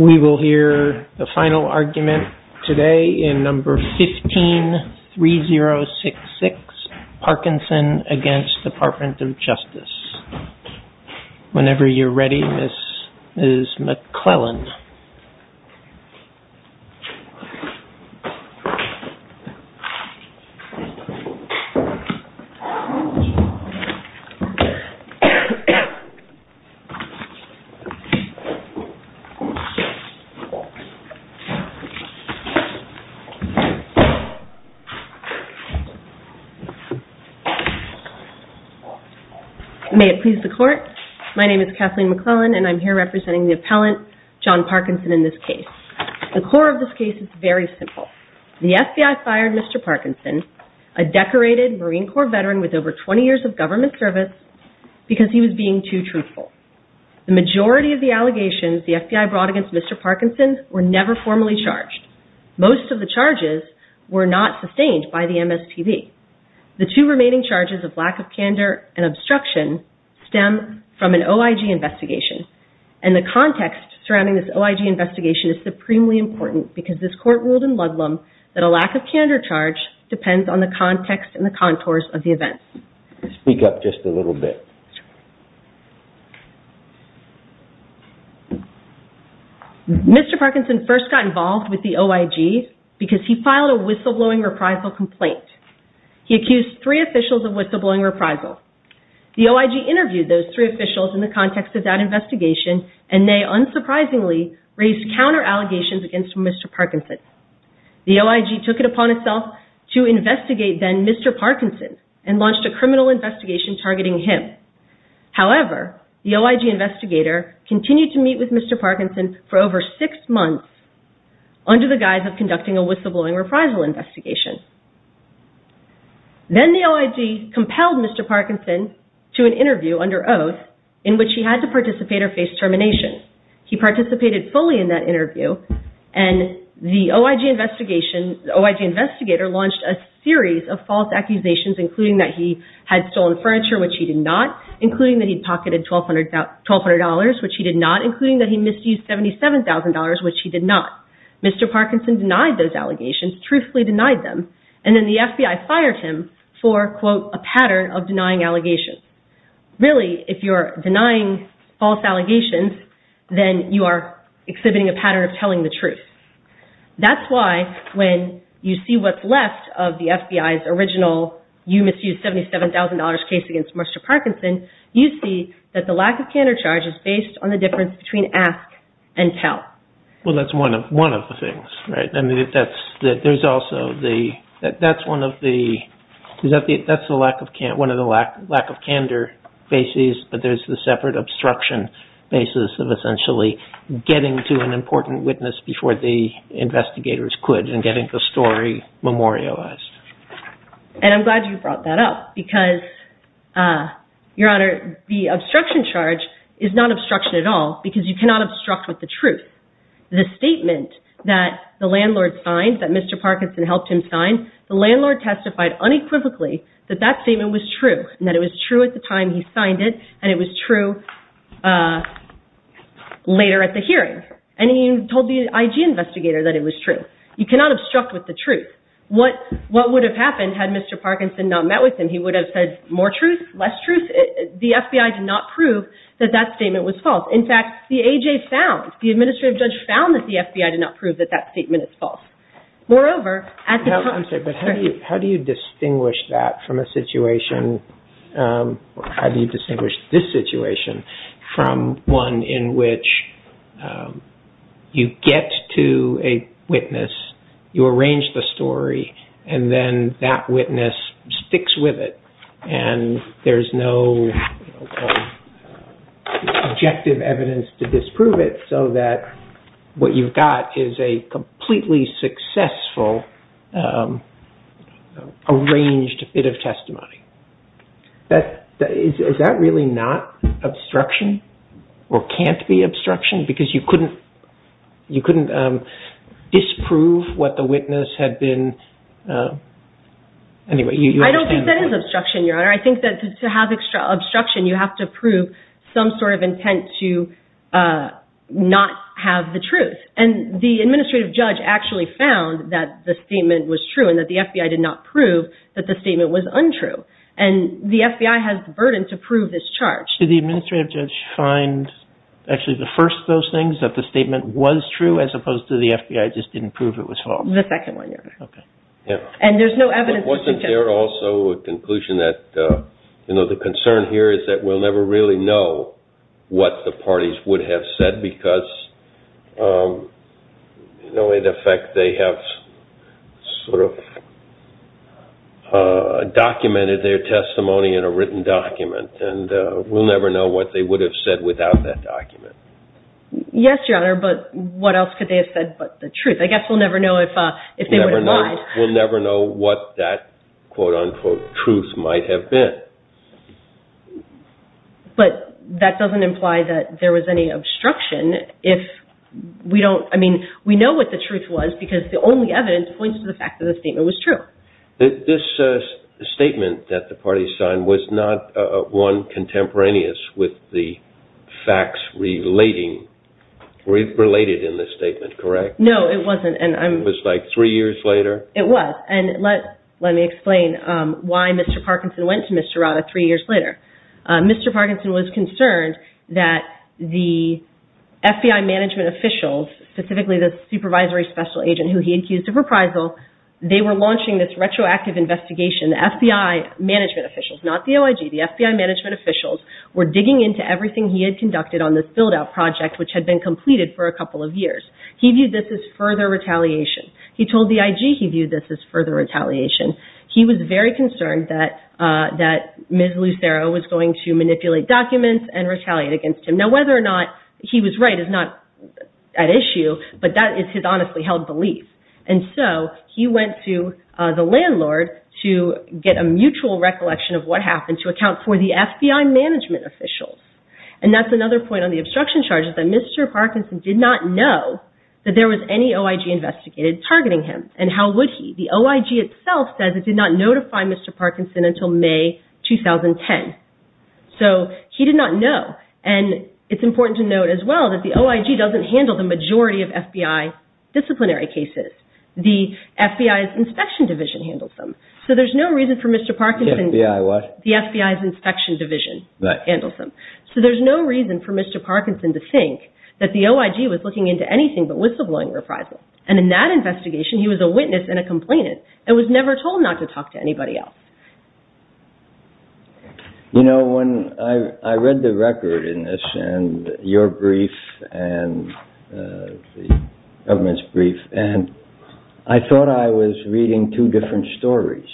We will hear the final argument today in No. 15-3066, Parkinson v. Department of Justice. Whenever you're ready, Mrs. McClellan. May it please the court, my name is Kathleen McClellan and I'm here representing the The court of this case is very simple. The FBI fired Mr. Parkinson, a decorated Marine Corps veteran with over 20 years of government service, because he was being too truthful. The majority of the allegations the FBI brought against Mr. Parkinson were never formally charged. Most of the charges were not sustained by the MSTV. The two remaining charges of lack of candor and obstruction stem from an OIG investigation and the context surrounding this OIG investigation is supremely important because this court ruled in Ludlam that a lack of candor charge depends on the context and the contours of the events. Speak up just a little bit. Mr. Parkinson first got involved with the OIG because he filed a whistleblowing reprisal complaint. He accused three officials of whistleblowing reprisal. The OIG interviewed those three officials in the context of that investigation and they unsurprisingly raised counter allegations against Mr. Parkinson. The OIG took it upon itself to investigate then Mr. Parkinson and launched a criminal investigation targeting him. However, the OIG investigator continued to meet with Mr. Parkinson for over six months under the guise of conducting a whistleblowing reprisal investigation. Then the OIG compelled Mr. Parkinson to an interview under oath in which he had to participate or face termination. He participated fully in that interview and the OIG investigator launched a series of false accusations including that he had stolen furniture, which he did not, including that he had pocketed $1,200, which he did not, including that he misused $77,000, which he did not. Mr. Parkinson denied those allegations, truthfully denied them, and then the FBI fired him for a pattern of denying allegations. Really, if you're denying false allegations, then you are exhibiting a pattern of telling the truth. That's why when you see what's left of the FBI's original you misused $77,000 case against Mr. Parkinson, you see that the lack of counter charges based on the difference between ask and tell. Well, that's one of the things, right? I mean, there's also the, that's one of the, that's the lack of, one of the lack of candor bases, but there's the separate obstruction basis of essentially getting to an important witness before the investigators could and getting the story memorialized. And I'm glad you brought that up because, Your Honor, the obstruction charge is not obstruct with the truth. The statement that the landlord signed, that Mr. Parkinson helped him sign, the landlord testified unequivocally that that statement was true and that it was true at the time he signed it and it was true later at the hearing. And he told the IG investigator that it was true. You cannot obstruct with the truth. What, what would have happened had Mr. Parkinson not met with him? He would have said more truth, less truth? The FBI did not prove that that statement was false. In fact, the AJ found, the administrative judge found that the FBI did not prove that that statement is false. Moreover, at the time... I'm sorry, but how do you, how do you distinguish that from a situation, or how do you distinguish this situation from one in which you get to a witness, you arrange the story, and then that witness sticks with it, and there's no objective evidence to disprove it, so that what you've got is a completely successful arranged bit of testimony. That, is that really not obstruction? Or can't be obstruction? Because you couldn't, you couldn't disprove what the witness had been... I don't think that is obstruction, Your Honor. I think that to have obstruction, you have to prove some sort of intent to not have the truth. And the administrative judge actually found that the statement was true and that the FBI did not prove that the statement was untrue. And the FBI has the burden to prove this charge. Did the administrative judge find, actually, the first of those things, that the statement was true as opposed to the FBI just didn't prove it was false? The second one, Your Honor. Okay. And there's no evidence... Wasn't there also a conclusion that, you know, the concern here is that we'll never really know what the parties would have said because, you know, in effect, they have sort of documented their testimony in a written document. And we'll never know what they would have said without that document. Yes, Your Honor. But what else could they have said but the truth? I guess we'll never know if they would have lied. We'll never know what that, quote, unquote, truth might have been. But that doesn't imply that there was any obstruction if we don't, I mean, we know what the truth was because the only evidence points to the fact that the statement was true. This statement that the parties signed was not, one, contemporaneous with the facts relating, related in the statement, correct? No, it wasn't. It was like three years later? It was. And let me explain why Mr. Parkinson went to Mr. Rada three years later. Mr. Parkinson was concerned that the FBI management officials, specifically the supervisory special agent who he accused of reprisal, they were launching this retroactive investigation. The FBI management officials, not the OIG, the FBI management officials were digging into everything he had conducted on this build-out project which had been completed for a couple of years. He viewed this as further retaliation. He told the IG he viewed this as further retaliation. He was very concerned that Ms. Lucero was going to manipulate documents and retaliate against him. Now, whether or not he was right is not at issue, but that is his honestly held belief. And so he went to the landlord to get a mutual recollection of what happened to account for the FBI management officials. And that's another point on the obstruction charges, that Mr. Parkinson did not know that there was any OIG investigated targeting him. And how would he? The OIG itself says it did not notify Mr. Parkinson until May 2010. So he did not know. And it's important to note as well that the OIG doesn't handle the majority of FBI disciplinary cases. The FBI's inspection division handles them. So there's no reason for Mr. Parkinson... The FBI what? The FBI's inspection division handles them. So there's no reason for Mr. Parkinson to think that the OIG was looking into anything but whistleblowing reprisal. And in that investigation, he was a witness and a complainant and was never told not to talk to anybody else. You know, when I read the record in this and your brief and the government's brief, and I thought I was reading two different stories.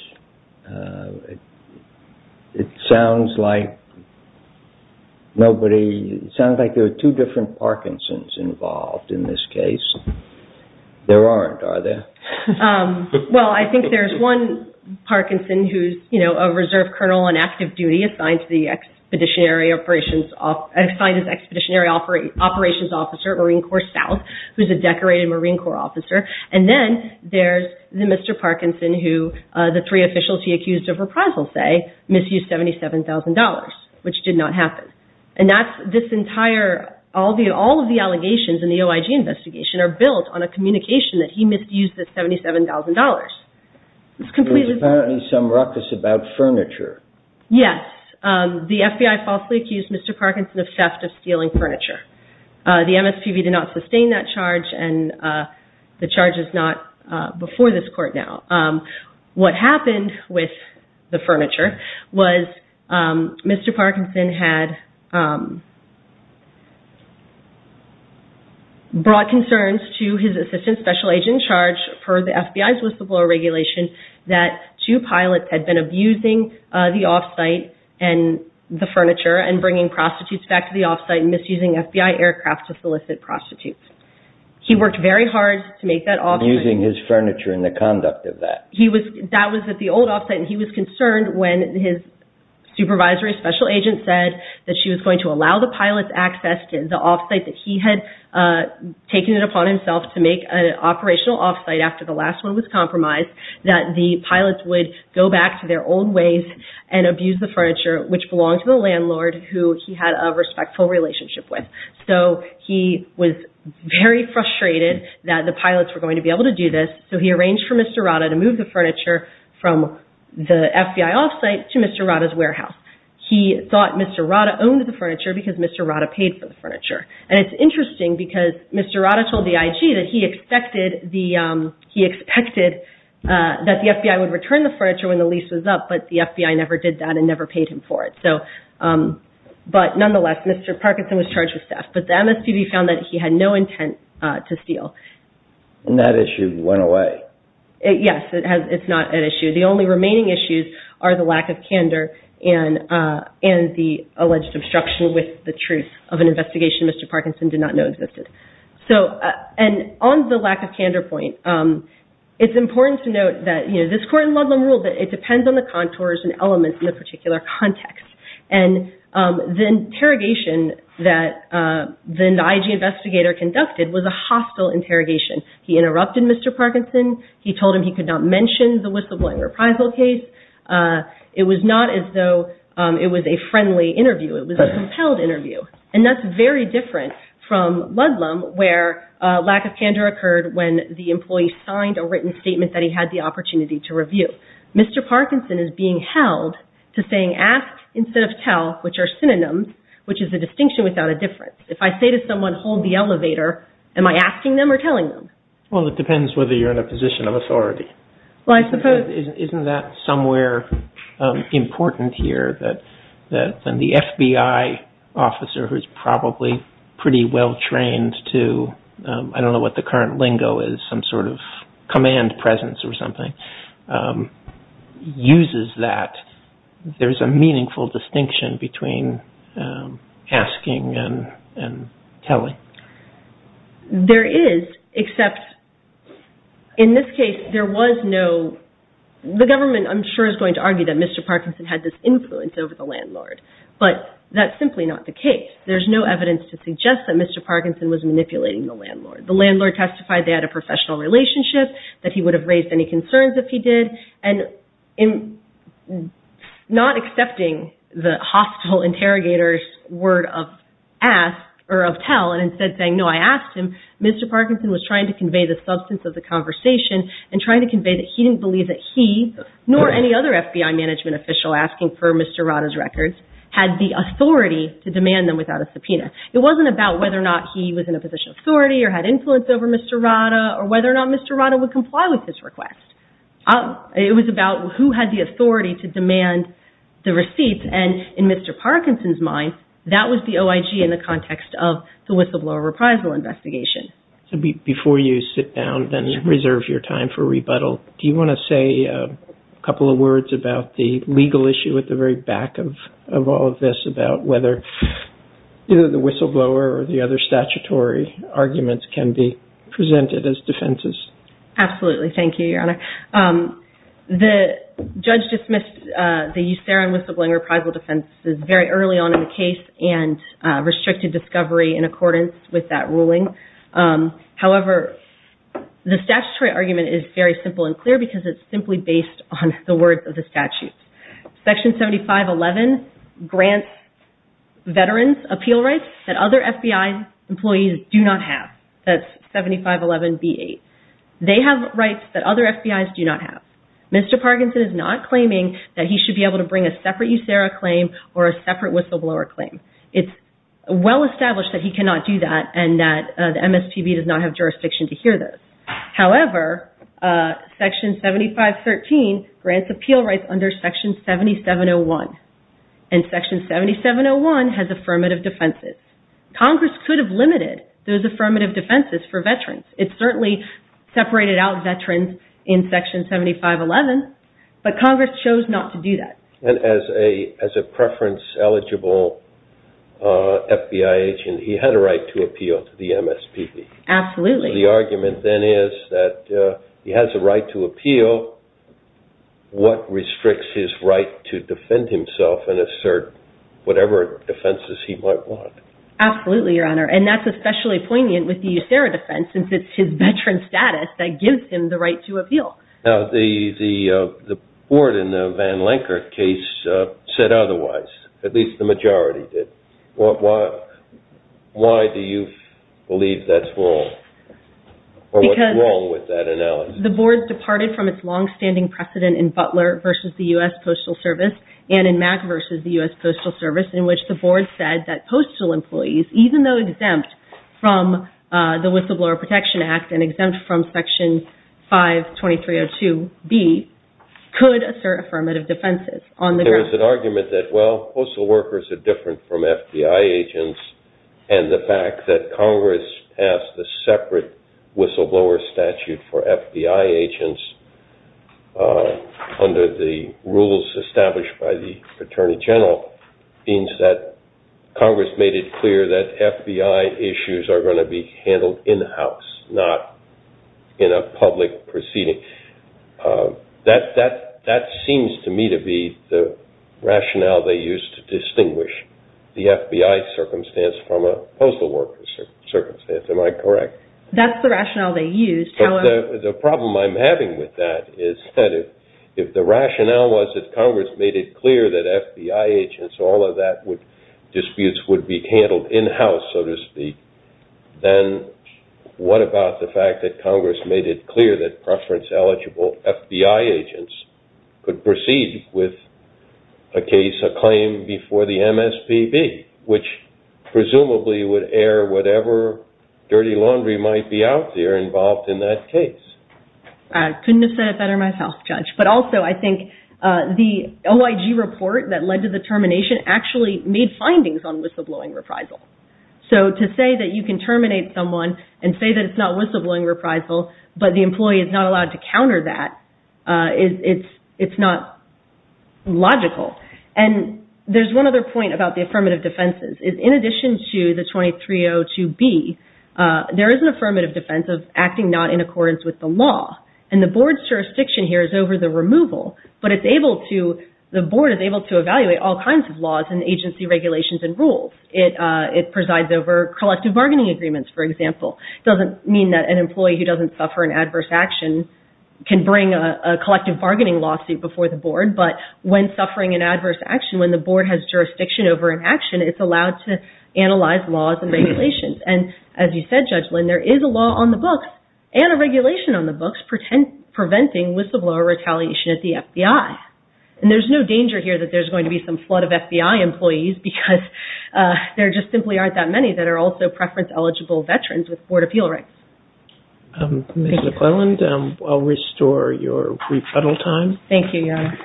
It sounds like nobody... It sounds like there were two different Parkinson's involved in this case. There aren't, are there? Well, I think there's one Parkinson who's, you know, a reserve colonel on active duty assigned to the expeditionary operations... assigned as expeditionary operations officer at Marine Corps South, who's a decorated Marine Corps officer. And then there's the Mr. Parkinson who the three officials he accused of reprisal say misused $77,000, which did not happen. And that's this entire... All of the allegations in the OIG investigation are built on a communication that he misused this $77,000. There was apparently some ruckus about furniture. Yes. The FBI falsely accused Mr. Parkinson of theft of stealing furniture. The MSPB did not sustain that charge and the charge is not before this court now. What happened with the furniture was Mr. Parkinson had brought concerns to his assistant special agent in charge for the FBI's whistleblower regulation that two pilots had been abusing the off-site and the furniture and bringing prostitutes back to the off-site and misusing FBI aircraft to solicit prostitutes. He worked very hard to make that off-site... Abusing his furniture and the conduct of that. That was at the old off-site and he was concerned when his supervisory special agent said that she was going to allow the pilots access to the off-site that he had taken it upon himself to make an operational off-site after the last one was compromised that the pilots would go back to their old ways and abuse the furniture which belonged to the landlord who he had a respectful relationship with. So he was very frustrated that the pilots were going to be able to do this so he arranged for Mr. Rata to move the furniture from the FBI off-site to Mr. Rata's warehouse. He thought Mr. Rata owned the furniture because Mr. Rata paid for the furniture. And it's interesting because Mr. Rata told the IG that he expected that the FBI would return the furniture when the lease was up but the FBI never did that and never paid him for it. But nonetheless, Mr. Parkinson was charged with theft but the MSPB found that he had no intent to steal. And that issue went away. Yes, it's not an issue. The only remaining issues are the lack of candor and the alleged obstruction with the Mr. Parkinson did not know existed. And on the lack of candor point, it's important to note that this court in Ludlam ruled that it depends on the contours and elements in the particular context. And the interrogation that the IG investigator conducted was a hostile interrogation. He interrupted Mr. Parkinson. He told him he could not mention the whistleblowing reprisal case. It was not as though it was a friendly interview. It was a compelled interview. And that's very different from Ludlam where lack of candor occurred when the employee signed a written statement that he had the opportunity to review. Mr. Parkinson is being held to saying ask instead of tell, which are synonyms, which is a distinction without a difference. If I say to someone, hold the elevator, am I asking them or telling them? Well, it depends whether you're in a position of authority. Isn't that somewhere important here that the FBI officer who's probably pretty well trained to, I don't know what the current lingo is, some sort of command presence or something, uses that. There's a meaningful distinction between asking and telling. There is, except in this case there was no, the government I'm sure is going to argue that Mr. Parkinson had this influence over the landlord. But that's simply not the case. There's no evidence to suggest that Mr. Parkinson was manipulating the landlord. The landlord testified they had a professional relationship, that he would have raised any concerns if he did. And in not accepting the hostile interrogator's word of ask or of tell and instead saying no, I asked him, Mr. Parkinson was trying to convey the substance of the conversation and trying to convey that he didn't believe that he nor any other FBI management official asking for Mr. Rada's records had the authority to demand them without a subpoena. It wasn't about whether or not he was in a position of authority or had influence over Mr. Rada or whether or not Mr. Rada would comply with his request. It was about who had the authority to demand the receipts and in Mr. Parkinson's mind, that was the OIG in the context of the whistleblower reprisal investigation. So before you sit down and reserve your time for rebuttal, do you want to say a couple of words about the legal issue at the very back of all of this about whether either the whistleblower or the other statutory arguments can be presented as defenses? Absolutely. Thank you, Your Honor. The judge dismissed the USARIN whistleblower reprisal defense as very early on in the case and restricted discovery in accordance with that ruling. However, the statutory argument is very simple and clear because it's simply based on the words of the statute. Section 7511 grants veterans appeal rights that other FBI employees do not have. That's 7511B8. They have rights that other FBI's do not have. Mr. Parkinson is not claiming that he should be able to bring a separate USARA claim or a separate whistleblower claim. It's well established that he cannot do that and that the MSPB does not have jurisdiction to hear those. However, Section 7513 grants appeal rights under Section 7701 and Section 7701 has affirmative defenses. Congress could have limited those affirmative defenses for veterans. It certainly separated out veterans in Section 7511, but Congress chose not to do that. As a preference eligible FBI agent, he had a right to appeal to the MSPB. Absolutely. The argument then is that he has a right to appeal. What restricts his right to defend himself and assert whatever defenses he might want? Absolutely, Your Honor. That's especially poignant with the USARA defense since it's his veteran status that gives him the right to appeal. The board in the Van Lenker case said otherwise. At least the majority did. Why do you believe that's wrong? What's wrong with that analysis? The board departed from its long-standing precedent in Butler v. the U.S. Postal Service and in Mack v. the U.S. Postal Service in which the board said that postal employees, even though exempt from the Whistleblower Protection Act and exempt from Section 52302b, could assert affirmative defenses. There is an argument that, well, postal workers are different from FBI agents and the fact that Congress passed a separate whistleblower statute for FBI agents under the rules established by the Attorney General means that Congress made it clear that FBI issues are going to be handled in-house, not in a public proceeding. That seems to me to be the rationale they used to distinguish the FBI circumstance from the postal worker circumstance. Am I correct? That's the rationale they used. The problem I'm having with that is that if the rationale was that Congress made it clear that FBI agents, all of that, disputes would be handled in-house, so to speak, then what about the fact that Congress made it clear that preference-eligible FBI agents could proceed with a case, a claim, before the MSPB, which presumably would air whatever dirty laundry might be out there involved in that case? I couldn't have said it better myself, Judge. But also I think the OIG report that led to the termination actually made findings on whistleblowing reprisal. So to say that you can terminate someone and say that it's not whistleblowing reprisal but the employee is not allowed to counter that, it's not logical. And there's one other point about the affirmative defenses. In addition to the 2302B, there is an affirmative defense of acting not in accordance with the law. And the Board's jurisdiction here is over the removal, but the Board is able to evaluate all kinds of laws and agency regulations and rules. It presides over collective bargaining agreements, for example. It doesn't mean that an employee who doesn't suffer an adverse action can bring a collective bargaining lawsuit before the Board, but when suffering an adverse action, when the Board has jurisdiction over an action, it's allowed to analyze laws and regulations. And as you said, Judge Lynn, there is a law on the books and a regulation on the books preventing whistleblower retaliation at the FBI. And there's no danger here that there's going to be some flood of FBI employees because there just simply aren't that many that are also preference-eligible veterans with Board appeal rights. Ms. McClelland, I'll restore your rebuttal time. Thank you, Your Honor.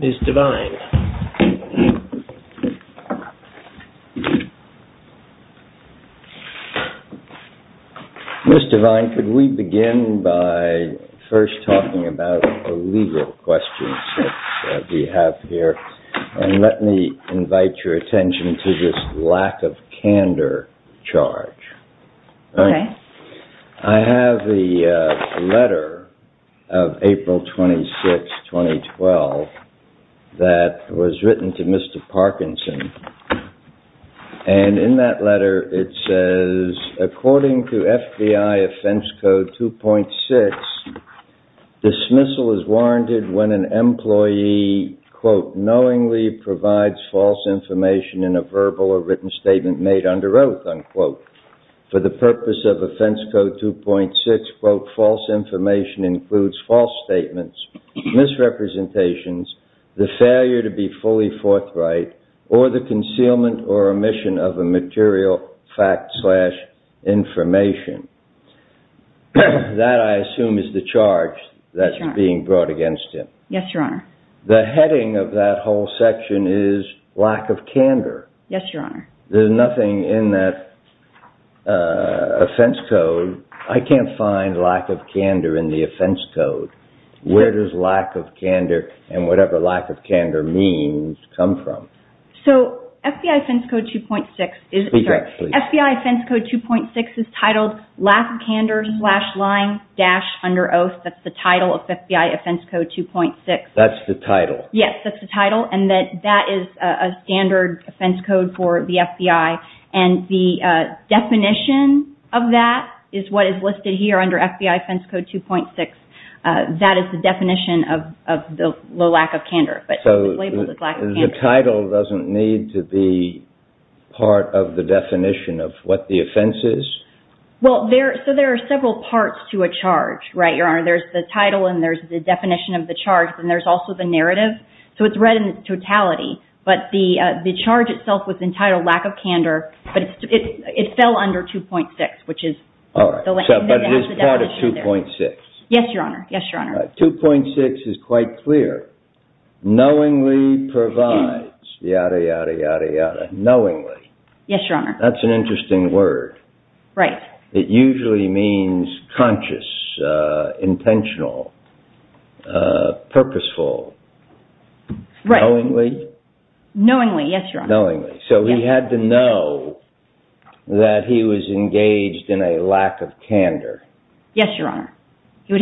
Ms. Devine. Ms. Devine, could we begin by first talking about the legal questions that we have here? And let me invite your attention to this lack of candor charge. Okay. I have the letter of April 26, 2012, that was written to Mr. Parkinson. And in that letter, it says, according to FBI Offense Code 2.6, dismissal is warranted when an employee, quote, knowingly provides false information in a verbal or written statement made under oath, unquote. For the purpose of Offense Code 2.6, quote, false information includes false statements, misrepresentations, the failure to be fully forthright, or the concealment or omission of a material fact slash information. That, I assume, is the charge that's being brought against him. Yes, Your Honor. The heading of that whole section is lack of candor. Yes, Your Honor. There's nothing in that offense code. I can't find lack of candor in the offense code. Where does lack of candor and whatever lack of candor means come from? So, FBI Offense Code 2.6 is- Speak up, please. FBI Offense Code 2.6 is titled lack of candor slash lying dash under oath. That's the title of FBI Offense Code 2.6. That's the title? Yes, that's the title. And that is a standard offense code for the FBI. And the definition of that is what is listed here under FBI Offense Code 2.6. That is the definition of the lack of candor. So, the title doesn't need to be part of the definition of what the offense is? Well, so there are several parts to a charge, right, Your Honor? There's the title and there's the definition of the charge, and there's also the narrative. So, it's read in its totality. But the charge itself was entitled lack of candor, but it fell under 2.6, which is- All right. But it is part of 2.6. Yes, Your Honor. Yes, Your Honor. 2.6 is quite clear. Knowingly provides, yada, yada, yada, yada. Knowingly. Yes, Your Honor. That's an interesting word. Right. It usually means conscious, intentional, purposeful. Right. Knowingly? Knowingly, yes, Your Honor. Knowingly. So, he had to know that he was engaged in a lack of candor. Yes, Your Honor. There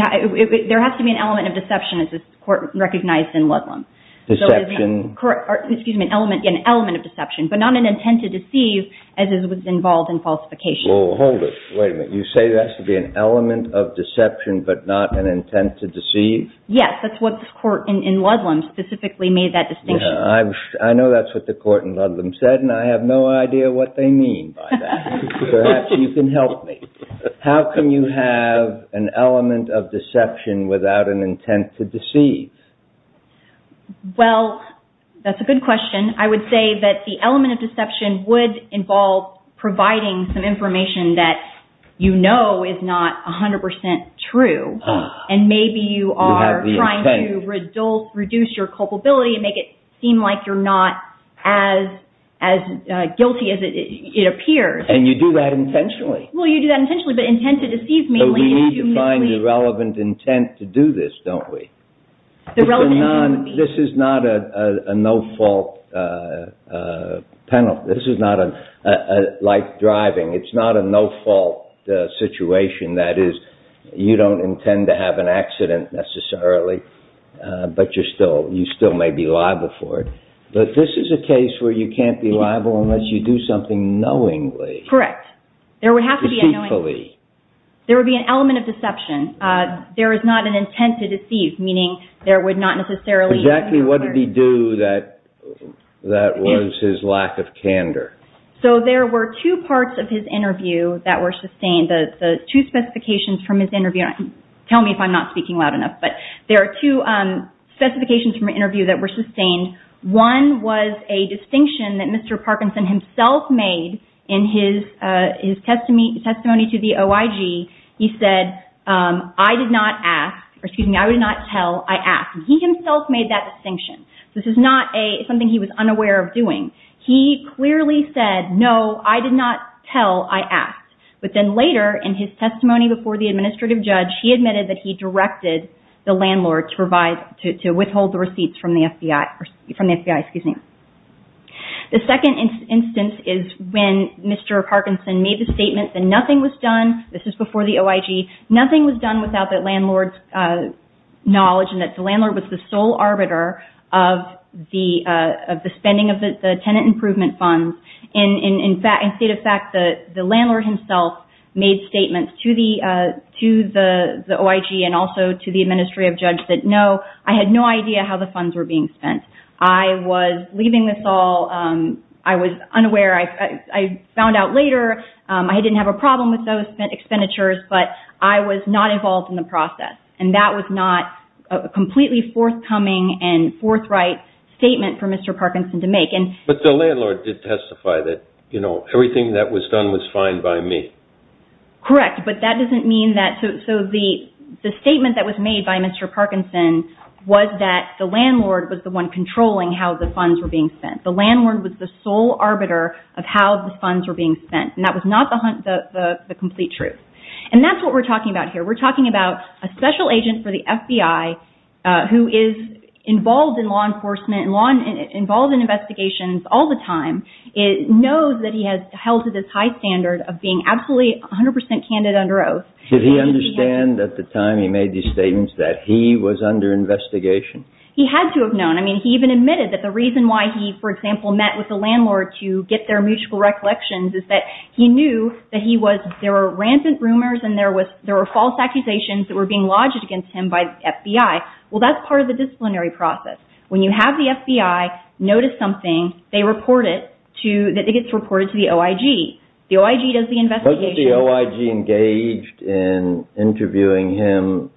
has to be an element of deception as is recognized in Ludlam. Deception. Excuse me, an element of deception, but not an intent to deceive as is involved in falsification. Hold it. Wait a minute. You say there has to be an element of deception, but not an intent to deceive? Yes. That's what the court in Ludlam specifically made that distinction. I know that's what the court in Ludlam said, and I have no idea what they mean by that. Perhaps you can help me. How can you have an element of deception without an intent to deceive? Well, that's a good question. I would say that the element of deception would involve providing some information that you know is not 100% true, and maybe you are trying to reduce your culpability and make it seem like you're not as guilty as it appears. And you do that intentionally. Well, you do that intentionally, but intent to deceive mainly. But we need to find the relevant intent to do this, don't we? This is not a no-fault penalty. This is not a life driving. It's not a no-fault situation. That is, you don't intend to have an accident necessarily, but you still may be liable for it. But this is a case where you can't be liable unless you do something knowingly. There would have to be a knowingly. Deceitfully. There would be an element of deception. There is not an intent to deceive, meaning there would not necessarily be an alert. But Jackie, what did he do that was his lack of candor? So there were two parts of his interview that were sustained. The two specifications from his interview. Tell me if I'm not speaking loud enough. But there are two specifications from an interview that were sustained. One was a distinction that Mr. Parkinson himself made in his testimony to the OIG. He said, I did not tell, I asked. He himself made that distinction. This is not something he was unaware of doing. He clearly said, no, I did not tell, I asked. But then later in his testimony before the administrative judge, he admitted that he directed the landlord to withhold the receipts from the FBI. The second instance is when Mr. Parkinson made the statement that nothing was done. This is before the OIG. Nothing was done without the landlord's knowledge, and that the landlord was the sole arbiter of the spending of the tenant improvement funds. In state of fact, the landlord himself made statements to the OIG and also to the administrative judge that, no, I had no idea how the funds were being spent. I was leaving this all. I was unaware. I found out later I didn't have a problem with those spent expenditures, but I was not involved in the process, and that was not a completely forthcoming and forthright statement for Mr. Parkinson to make. But the landlord did testify that everything that was done was fine by me. Correct, but that doesn't mean that. So the statement that was made by Mr. Parkinson was that the landlord was the one controlling how the funds were being spent. The landlord was the sole arbiter of how the funds were being spent, and that was not the complete truth. And that's what we're talking about here. We're talking about a special agent for the FBI who is involved in law enforcement, involved in investigations all the time, knows that he has held to this high standard of being absolutely 100 percent candid under oath. Did he understand at the time he made these statements that he was under investigation? He had to have known. I mean, he even admitted that the reason why he, for example, met with the landlord to get their mutual recollections is that he knew that there were rancid rumors and there were false accusations that were being lodged against him by the FBI. Well, that's part of the disciplinary process. When you have the FBI notice something, they report it to the OIG. The OIG does the investigation. Was the OIG engaged in interviewing him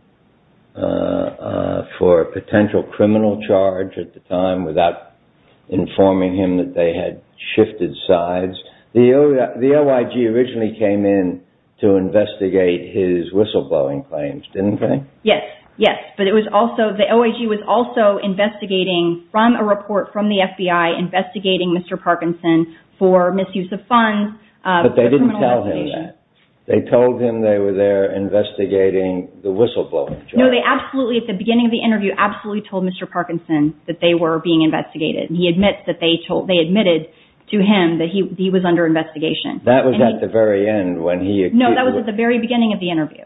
for a potential criminal charge at the time without informing him that they had shifted sides? The OIG originally came in to investigate his whistleblowing claims, didn't they? Yes, yes. But it was also, the OIG was also investigating from a report from the FBI investigating Mr. Parkinson for misuse of funds. But they didn't tell him that. They told him they were there investigating the whistleblowing charge. No, they absolutely, at the beginning of the interview, absolutely told Mr. Parkinson that they were being investigated. He admits that they told, they admitted to him that he was under investigation. That was at the very end when he. No, that was at the very beginning of the interview.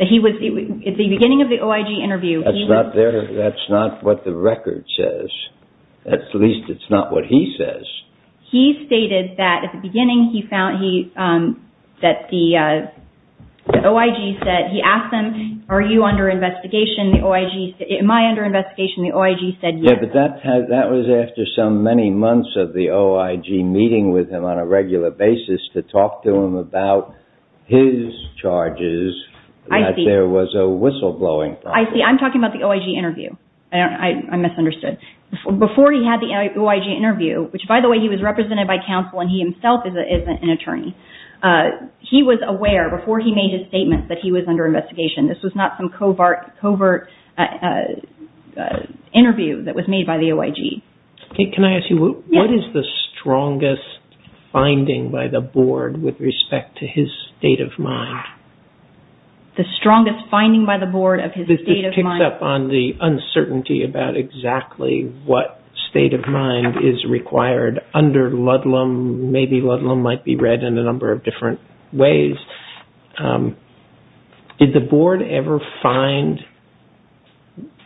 That he was, at the beginning of the OIG interview. That's not there, that's not what the record says. At least it's not what he says. He stated that at the beginning he found, that the OIG said, he asked them, are you under investigation? The OIG said, am I under investigation? The OIG said yes. Yeah, but that was after so many months of the OIG meeting with him on a regular basis to talk to him about his charges. I see. That there was a whistleblowing problem. I see, I'm talking about the OIG interview. I misunderstood. Before he had the OIG interview, which by the way he was represented by counsel and he himself is an attorney, he was aware before he made his statement that he was under investigation. This was not some covert interview that was made by the OIG. Can I ask you, what is the strongest finding by the board with respect to his state of mind? You brought up on the uncertainty about exactly what state of mind is required under Ludlum. Maybe Ludlum might be read in a number of different ways. Did the board ever find,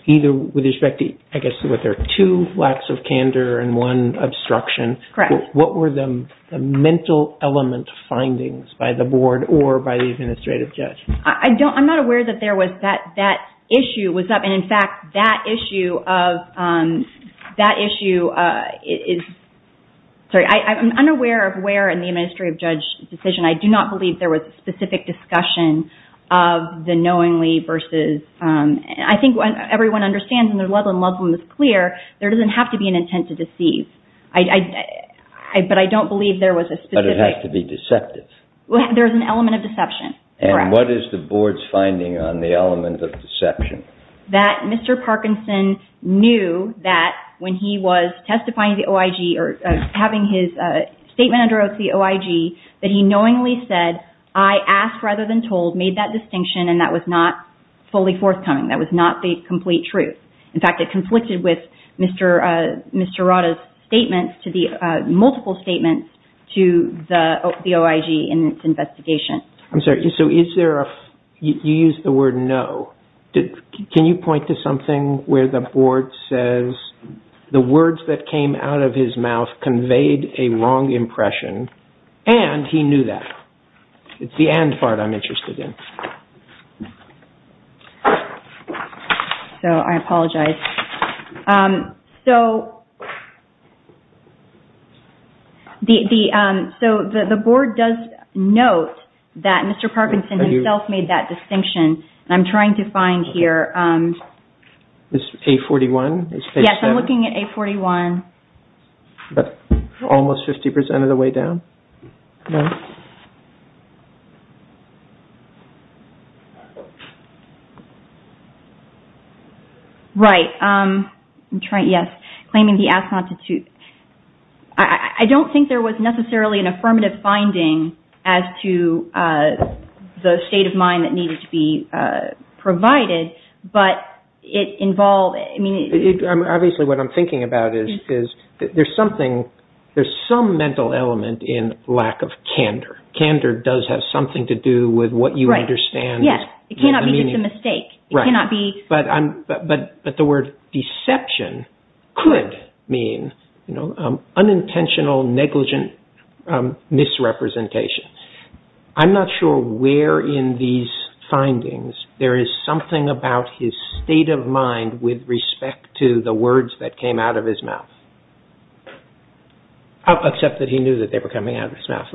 either with respect to, I guess there are two lacks of candor and one obstruction, what were the mental element findings by the board or by the administrative judge? I'm not aware that there was that issue. In fact, that issue is, sorry, I'm unaware of where in the administrative judge's decision. I do not believe there was a specific discussion of the knowingly versus. I think everyone understands when Ludlum was clear, there doesn't have to be an intent to deceive. But I don't believe there was a specific. But it has to be deceptive. There's an element of deception. And what is the board's finding on the element of deception? That Mr. Parkinson knew that when he was testifying to the OIG or having his statement under oath to the OIG, that he knowingly said, I asked rather than told, made that distinction, and that was not fully forthcoming. That was not the complete truth. In fact, it conflicted with Mr. Rotta's statements, multiple statements to the OIG in its investigation. I'm sorry, so you used the word no. Can you point to something where the board says the words that came out of his mouth conveyed a wrong impression and he knew that? It's the and part I'm interested in. I apologize. So the board does note that Mr. Parkinson himself made that distinction. And I'm trying to find here. Is A41? Yes, I'm looking at A41. Almost 50% of the way down? No. Right. I'm trying, yes. Claiming the ass constitute. I don't think there was necessarily an affirmative finding as to the state of mind that needed to be provided, but it involved, I mean... Obviously what I'm thinking about is there's something, there's some mental element in lack of candor. Candor does have something to do with what you understand. Yes. It cannot be just a mistake. It cannot be... But the word deception could mean unintentional, negligent misrepresentation. I'm not sure where in these findings there is something about his state of mind with respect to the words that came out of his mouth. Except that he knew that they were coming out of his mouth.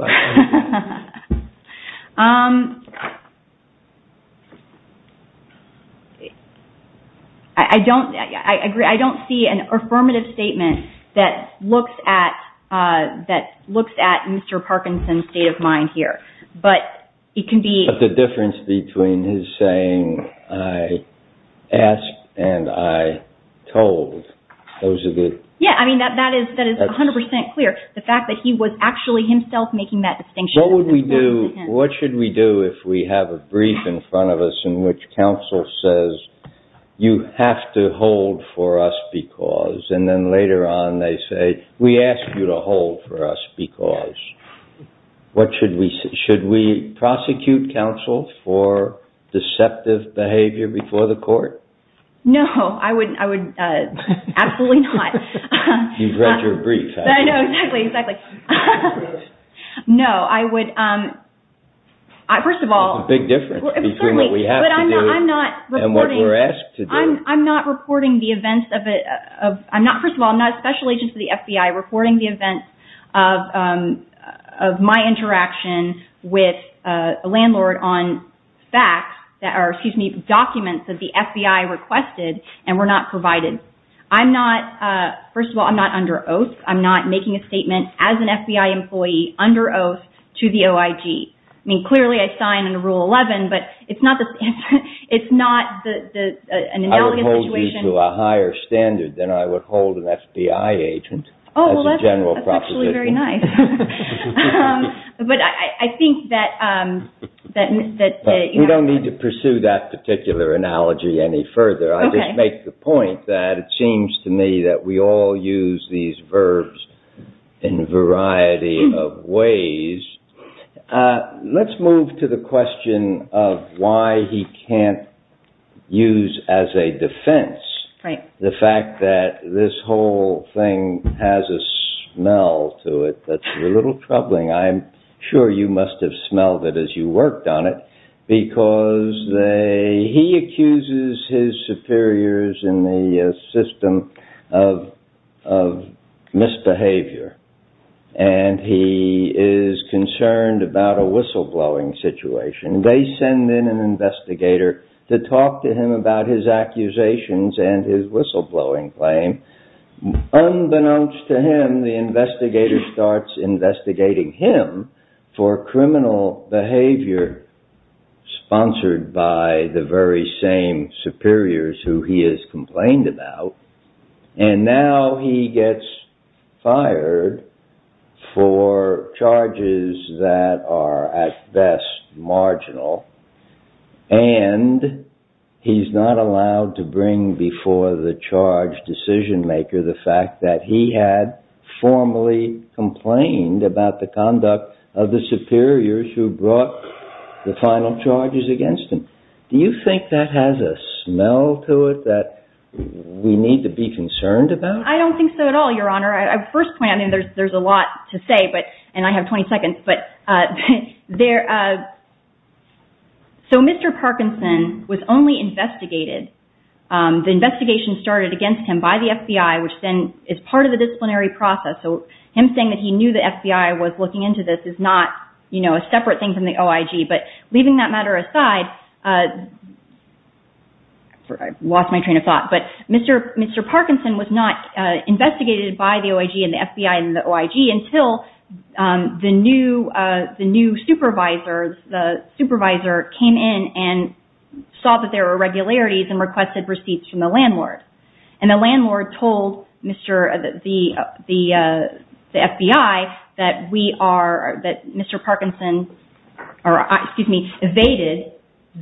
I don't see an affirmative statement that looks at Mr. Parkinson's state of mind here. But it can be... But the difference between his saying, I asked and I told, those are the... That is 100% clear. The fact that he was actually himself making that distinction. What should we do if we have a brief in front of us in which counsel says, you have to hold for us because... And then later on they say, we ask you to hold for us because... Should we prosecute counsel for deceptive behavior before the court? No. I would absolutely not. You've read your brief. I know. Exactly. Exactly. No. I would... First of all... There's a big difference between what we have to do and what we're asked to do. I'm not reporting the events of... First of all, I'm not a special agent for the FBI reporting the events of my interaction with a landlord on facts that are, excuse me, documents that the FBI requested and were not provided. I'm not... First of all, I'm not under oath. I'm not making a statement as an FBI employee under oath to the OIG. I mean, clearly I signed under Rule 11, but it's not the... It's not the... I would hold you to a higher standard than I would hold an FBI agent as a general proposition. That's actually very nice. But I think that... We don't need to pursue that particular analogy any further. I just make the point that it seems to me that we all use these verbs in a variety of ways. Let's move to the question of why he can't use as a defense the fact that this whole thing has a smell to it that's a little troubling. I'm sure you must have smelled it as you worked on it because he accuses his superiors in the system of misbehavior and he is concerned about a whistleblowing situation. They send in an investigator to talk to him about his accusations and his whistleblowing claim. Unbeknownst to him, the investigator starts investigating him for criminal behavior sponsored by the very same superiors who he has complained about and now he gets fired for charges that are at best marginal and he's not allowed to bring before the charge decision maker the fact that he had formally complained about the conduct of the superiors who brought the final charges against him. Do you think that has a smell to it that we need to be concerned about? I don't think so at all, Your Honor. At first point, I mean, there's a lot to say, and I have 20 seconds, but Mr. Parkinson was only investigated. The investigation started against him by the FBI, which then is part of the disciplinary process, so him saying that he knew the FBI was looking into this is not a separate thing from the OIG, but leaving that matter aside, I've lost my train of thought, but Mr. Parkinson was not investigated by the OIG and the FBI and the OIG until the new supervisor came in and saw that there were irregularities and requested receipts from the landlord, and the landlord told the FBI that Mr. Parkinson evaded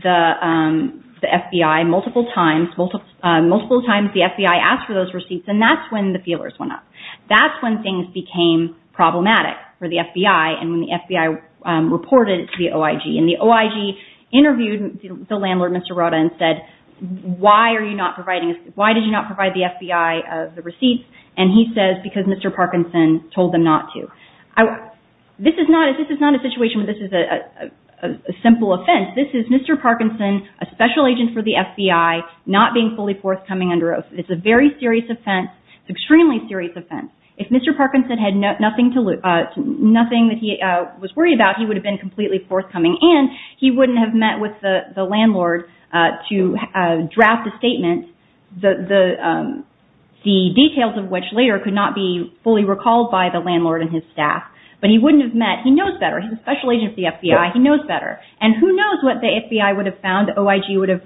the FBI multiple times. Multiple times the FBI asked for those receipts, and that's when the feelers went up. That's when things became problematic for the FBI, and when the FBI reported to the OIG, and the OIG interviewed the landlord, Mr. Roda, and said, why did you not provide the FBI the receipts? And he says, because Mr. Parkinson told them not to. This is not a situation where this is a simple offense. This is Mr. Parkinson, a special agent for the FBI, not being fully forthcoming under oath. It's a very serious offense, extremely serious offense. If Mr. Parkinson had nothing to lose, nothing that he was worried about, he would have been completely forthcoming, and he wouldn't have met with the landlord to draft a statement, the details of which later could not be fully recalled by the landlord and his staff, but he wouldn't have met. He knows better. He's a special agent for the FBI. He knows better, and who knows what the FBI would have found, what the OIG would have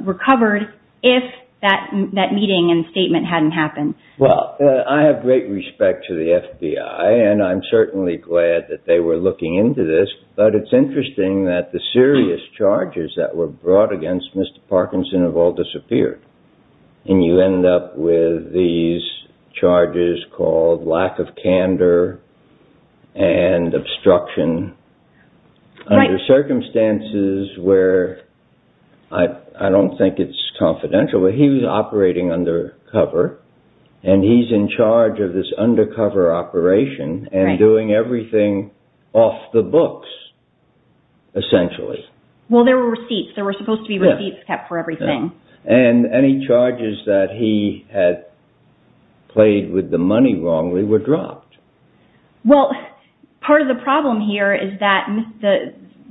recovered if that meeting and statement hadn't happened. Well, I have great respect for the FBI, and I'm certainly glad that they were looking into this, but it's interesting that the serious charges that were brought against Mr. Parkinson have all disappeared, and you end up with these charges called lack of candor and obstruction. Under circumstances where I don't think it's confidential, but he was operating undercover, and he's in charge of this undercover operation and doing everything off the books, essentially. Well, there were receipts. There were supposed to be receipts kept for everything. And any charges that he had played with the money wrongly were dropped. Well, part of the problem here is that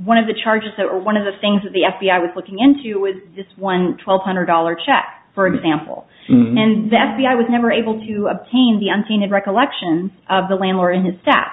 one of the charges or one of the things that the FBI was looking into was this one $1,200 check, for example, and the FBI was never able to obtain the untainted recollections of the landlord and his staff.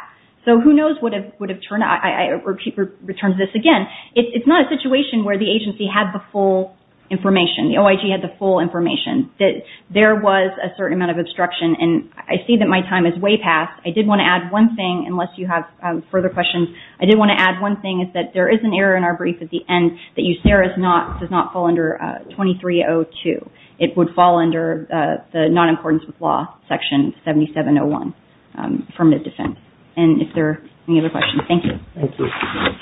So who knows what would have turned out. I repeat this again. It's not a situation where the agency had the full information. The OIG had the full information that there was a certain amount of obstruction, and I see that my time is way past. I did want to add one thing, unless you have further questions. I did want to add one thing, is that there is an error in our brief at the end, that USERA does not fall under 2302. It would fall under the Nonimportance with Law, Section 7701, Affirmative Defense. And if there are any other questions, thank you. Thank you. I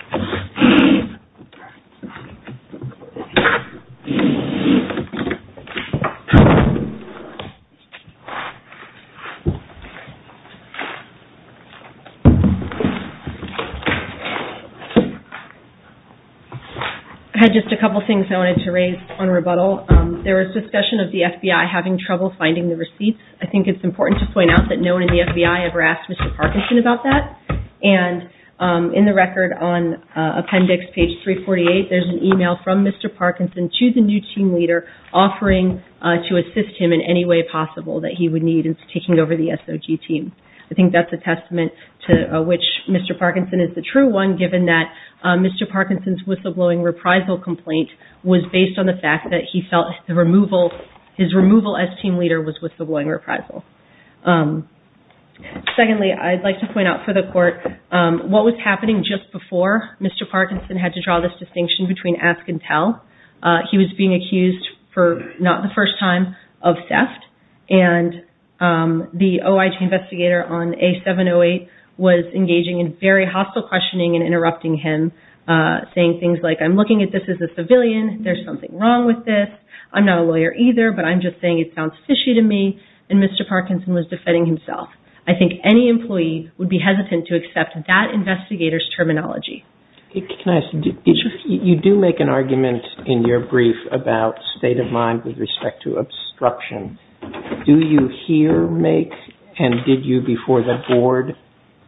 had just a couple of things I wanted to raise on rebuttal. There was discussion of the FBI having trouble finding the receipts. I think it's important to point out that no one in the FBI ever asked Mr. Parkinson about that. And in the record on Appendix page 348, there's an email from Mr. Parkinson to the new team leader offering to assist him in any way possible that he would need. I think that's a testament to which Mr. Parkinson is the true one, given that Mr. Parkinson's whistleblowing reprisal complaint was based on the fact that he felt his removal as team leader was whistleblowing reprisal. Secondly, I'd like to point out for the Court, what was happening just before Mr. Parkinson had to draw this distinction between ask and tell, and the OIG investigator on A708 was engaging in very hostile questioning and interrupting him, saying things like, I'm looking at this as a civilian. There's something wrong with this. I'm not a lawyer either, but I'm just saying it sounds fishy to me. And Mr. Parkinson was defending himself. I think any employee would be hesitant to accept that investigator's terminology. Can I ask, you do make an argument in your brief about state of mind with respect to obstruction. Do you here make, and did you before the Board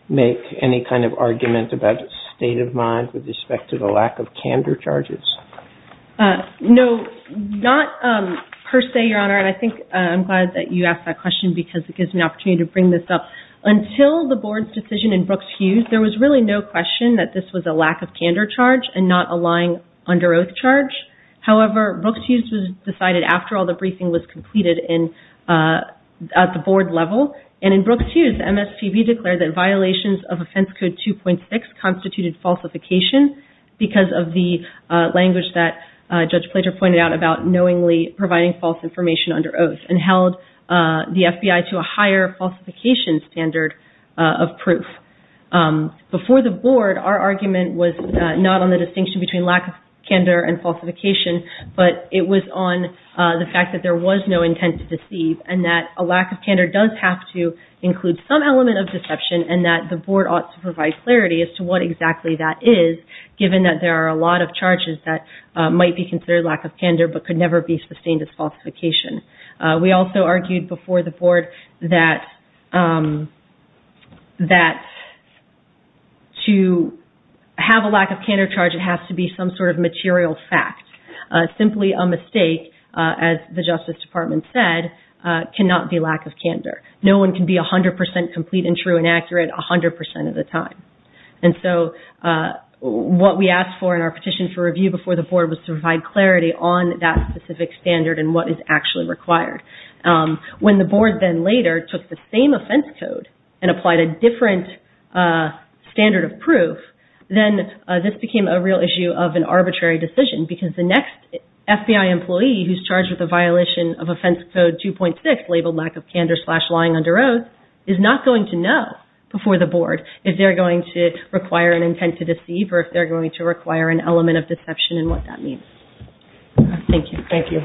make, any kind of argument about state of mind with respect to the lack of candor charges? No, not per se, Your Honor, and I think I'm glad that you asked that question because it gives me an opportunity to bring this up. Until the Board's decision in Brooks-Hughes, there was really no question that this was a lack of candor charge and not a lying under oath charge. However, Brooks-Hughes decided after all the briefing was completed at the Board level, and in Brooks-Hughes, MSPB declared that violations of Offense Code 2.6 constituted falsification because of the language that Judge Plater pointed out about knowingly providing false information under oath and held the FBI to a higher falsification standard of proof. Before the Board, our argument was not on the distinction between lack of candor and falsification, but it was on the fact that there was no intent to deceive and that a lack of candor does have to include some element of deception and that the Board ought to provide clarity as to what exactly that is, given that there are a lot of charges that might be considered lack of candor but could never be sustained as falsification. We also argued before the Board that to have a lack of candor charge, it has to be some sort of material fact. Simply a mistake, as the Justice Department said, cannot be lack of candor. No one can be 100% complete and true and accurate 100% of the time. And so what we asked for in our petition for review before the Board was to provide clarity on that specific standard and what is actually required. When the Board then later took the same offense code and applied a different standard of proof, then this became a real issue of an arbitrary decision because the next FBI employee who's charged with a violation of Offense Code 2.6 labeled lack of candor slash lying under oath is not going to know before the Board if they're going to require an intent to deceive or if they're going to require an element of deception and what that means. Thank you. Thank you.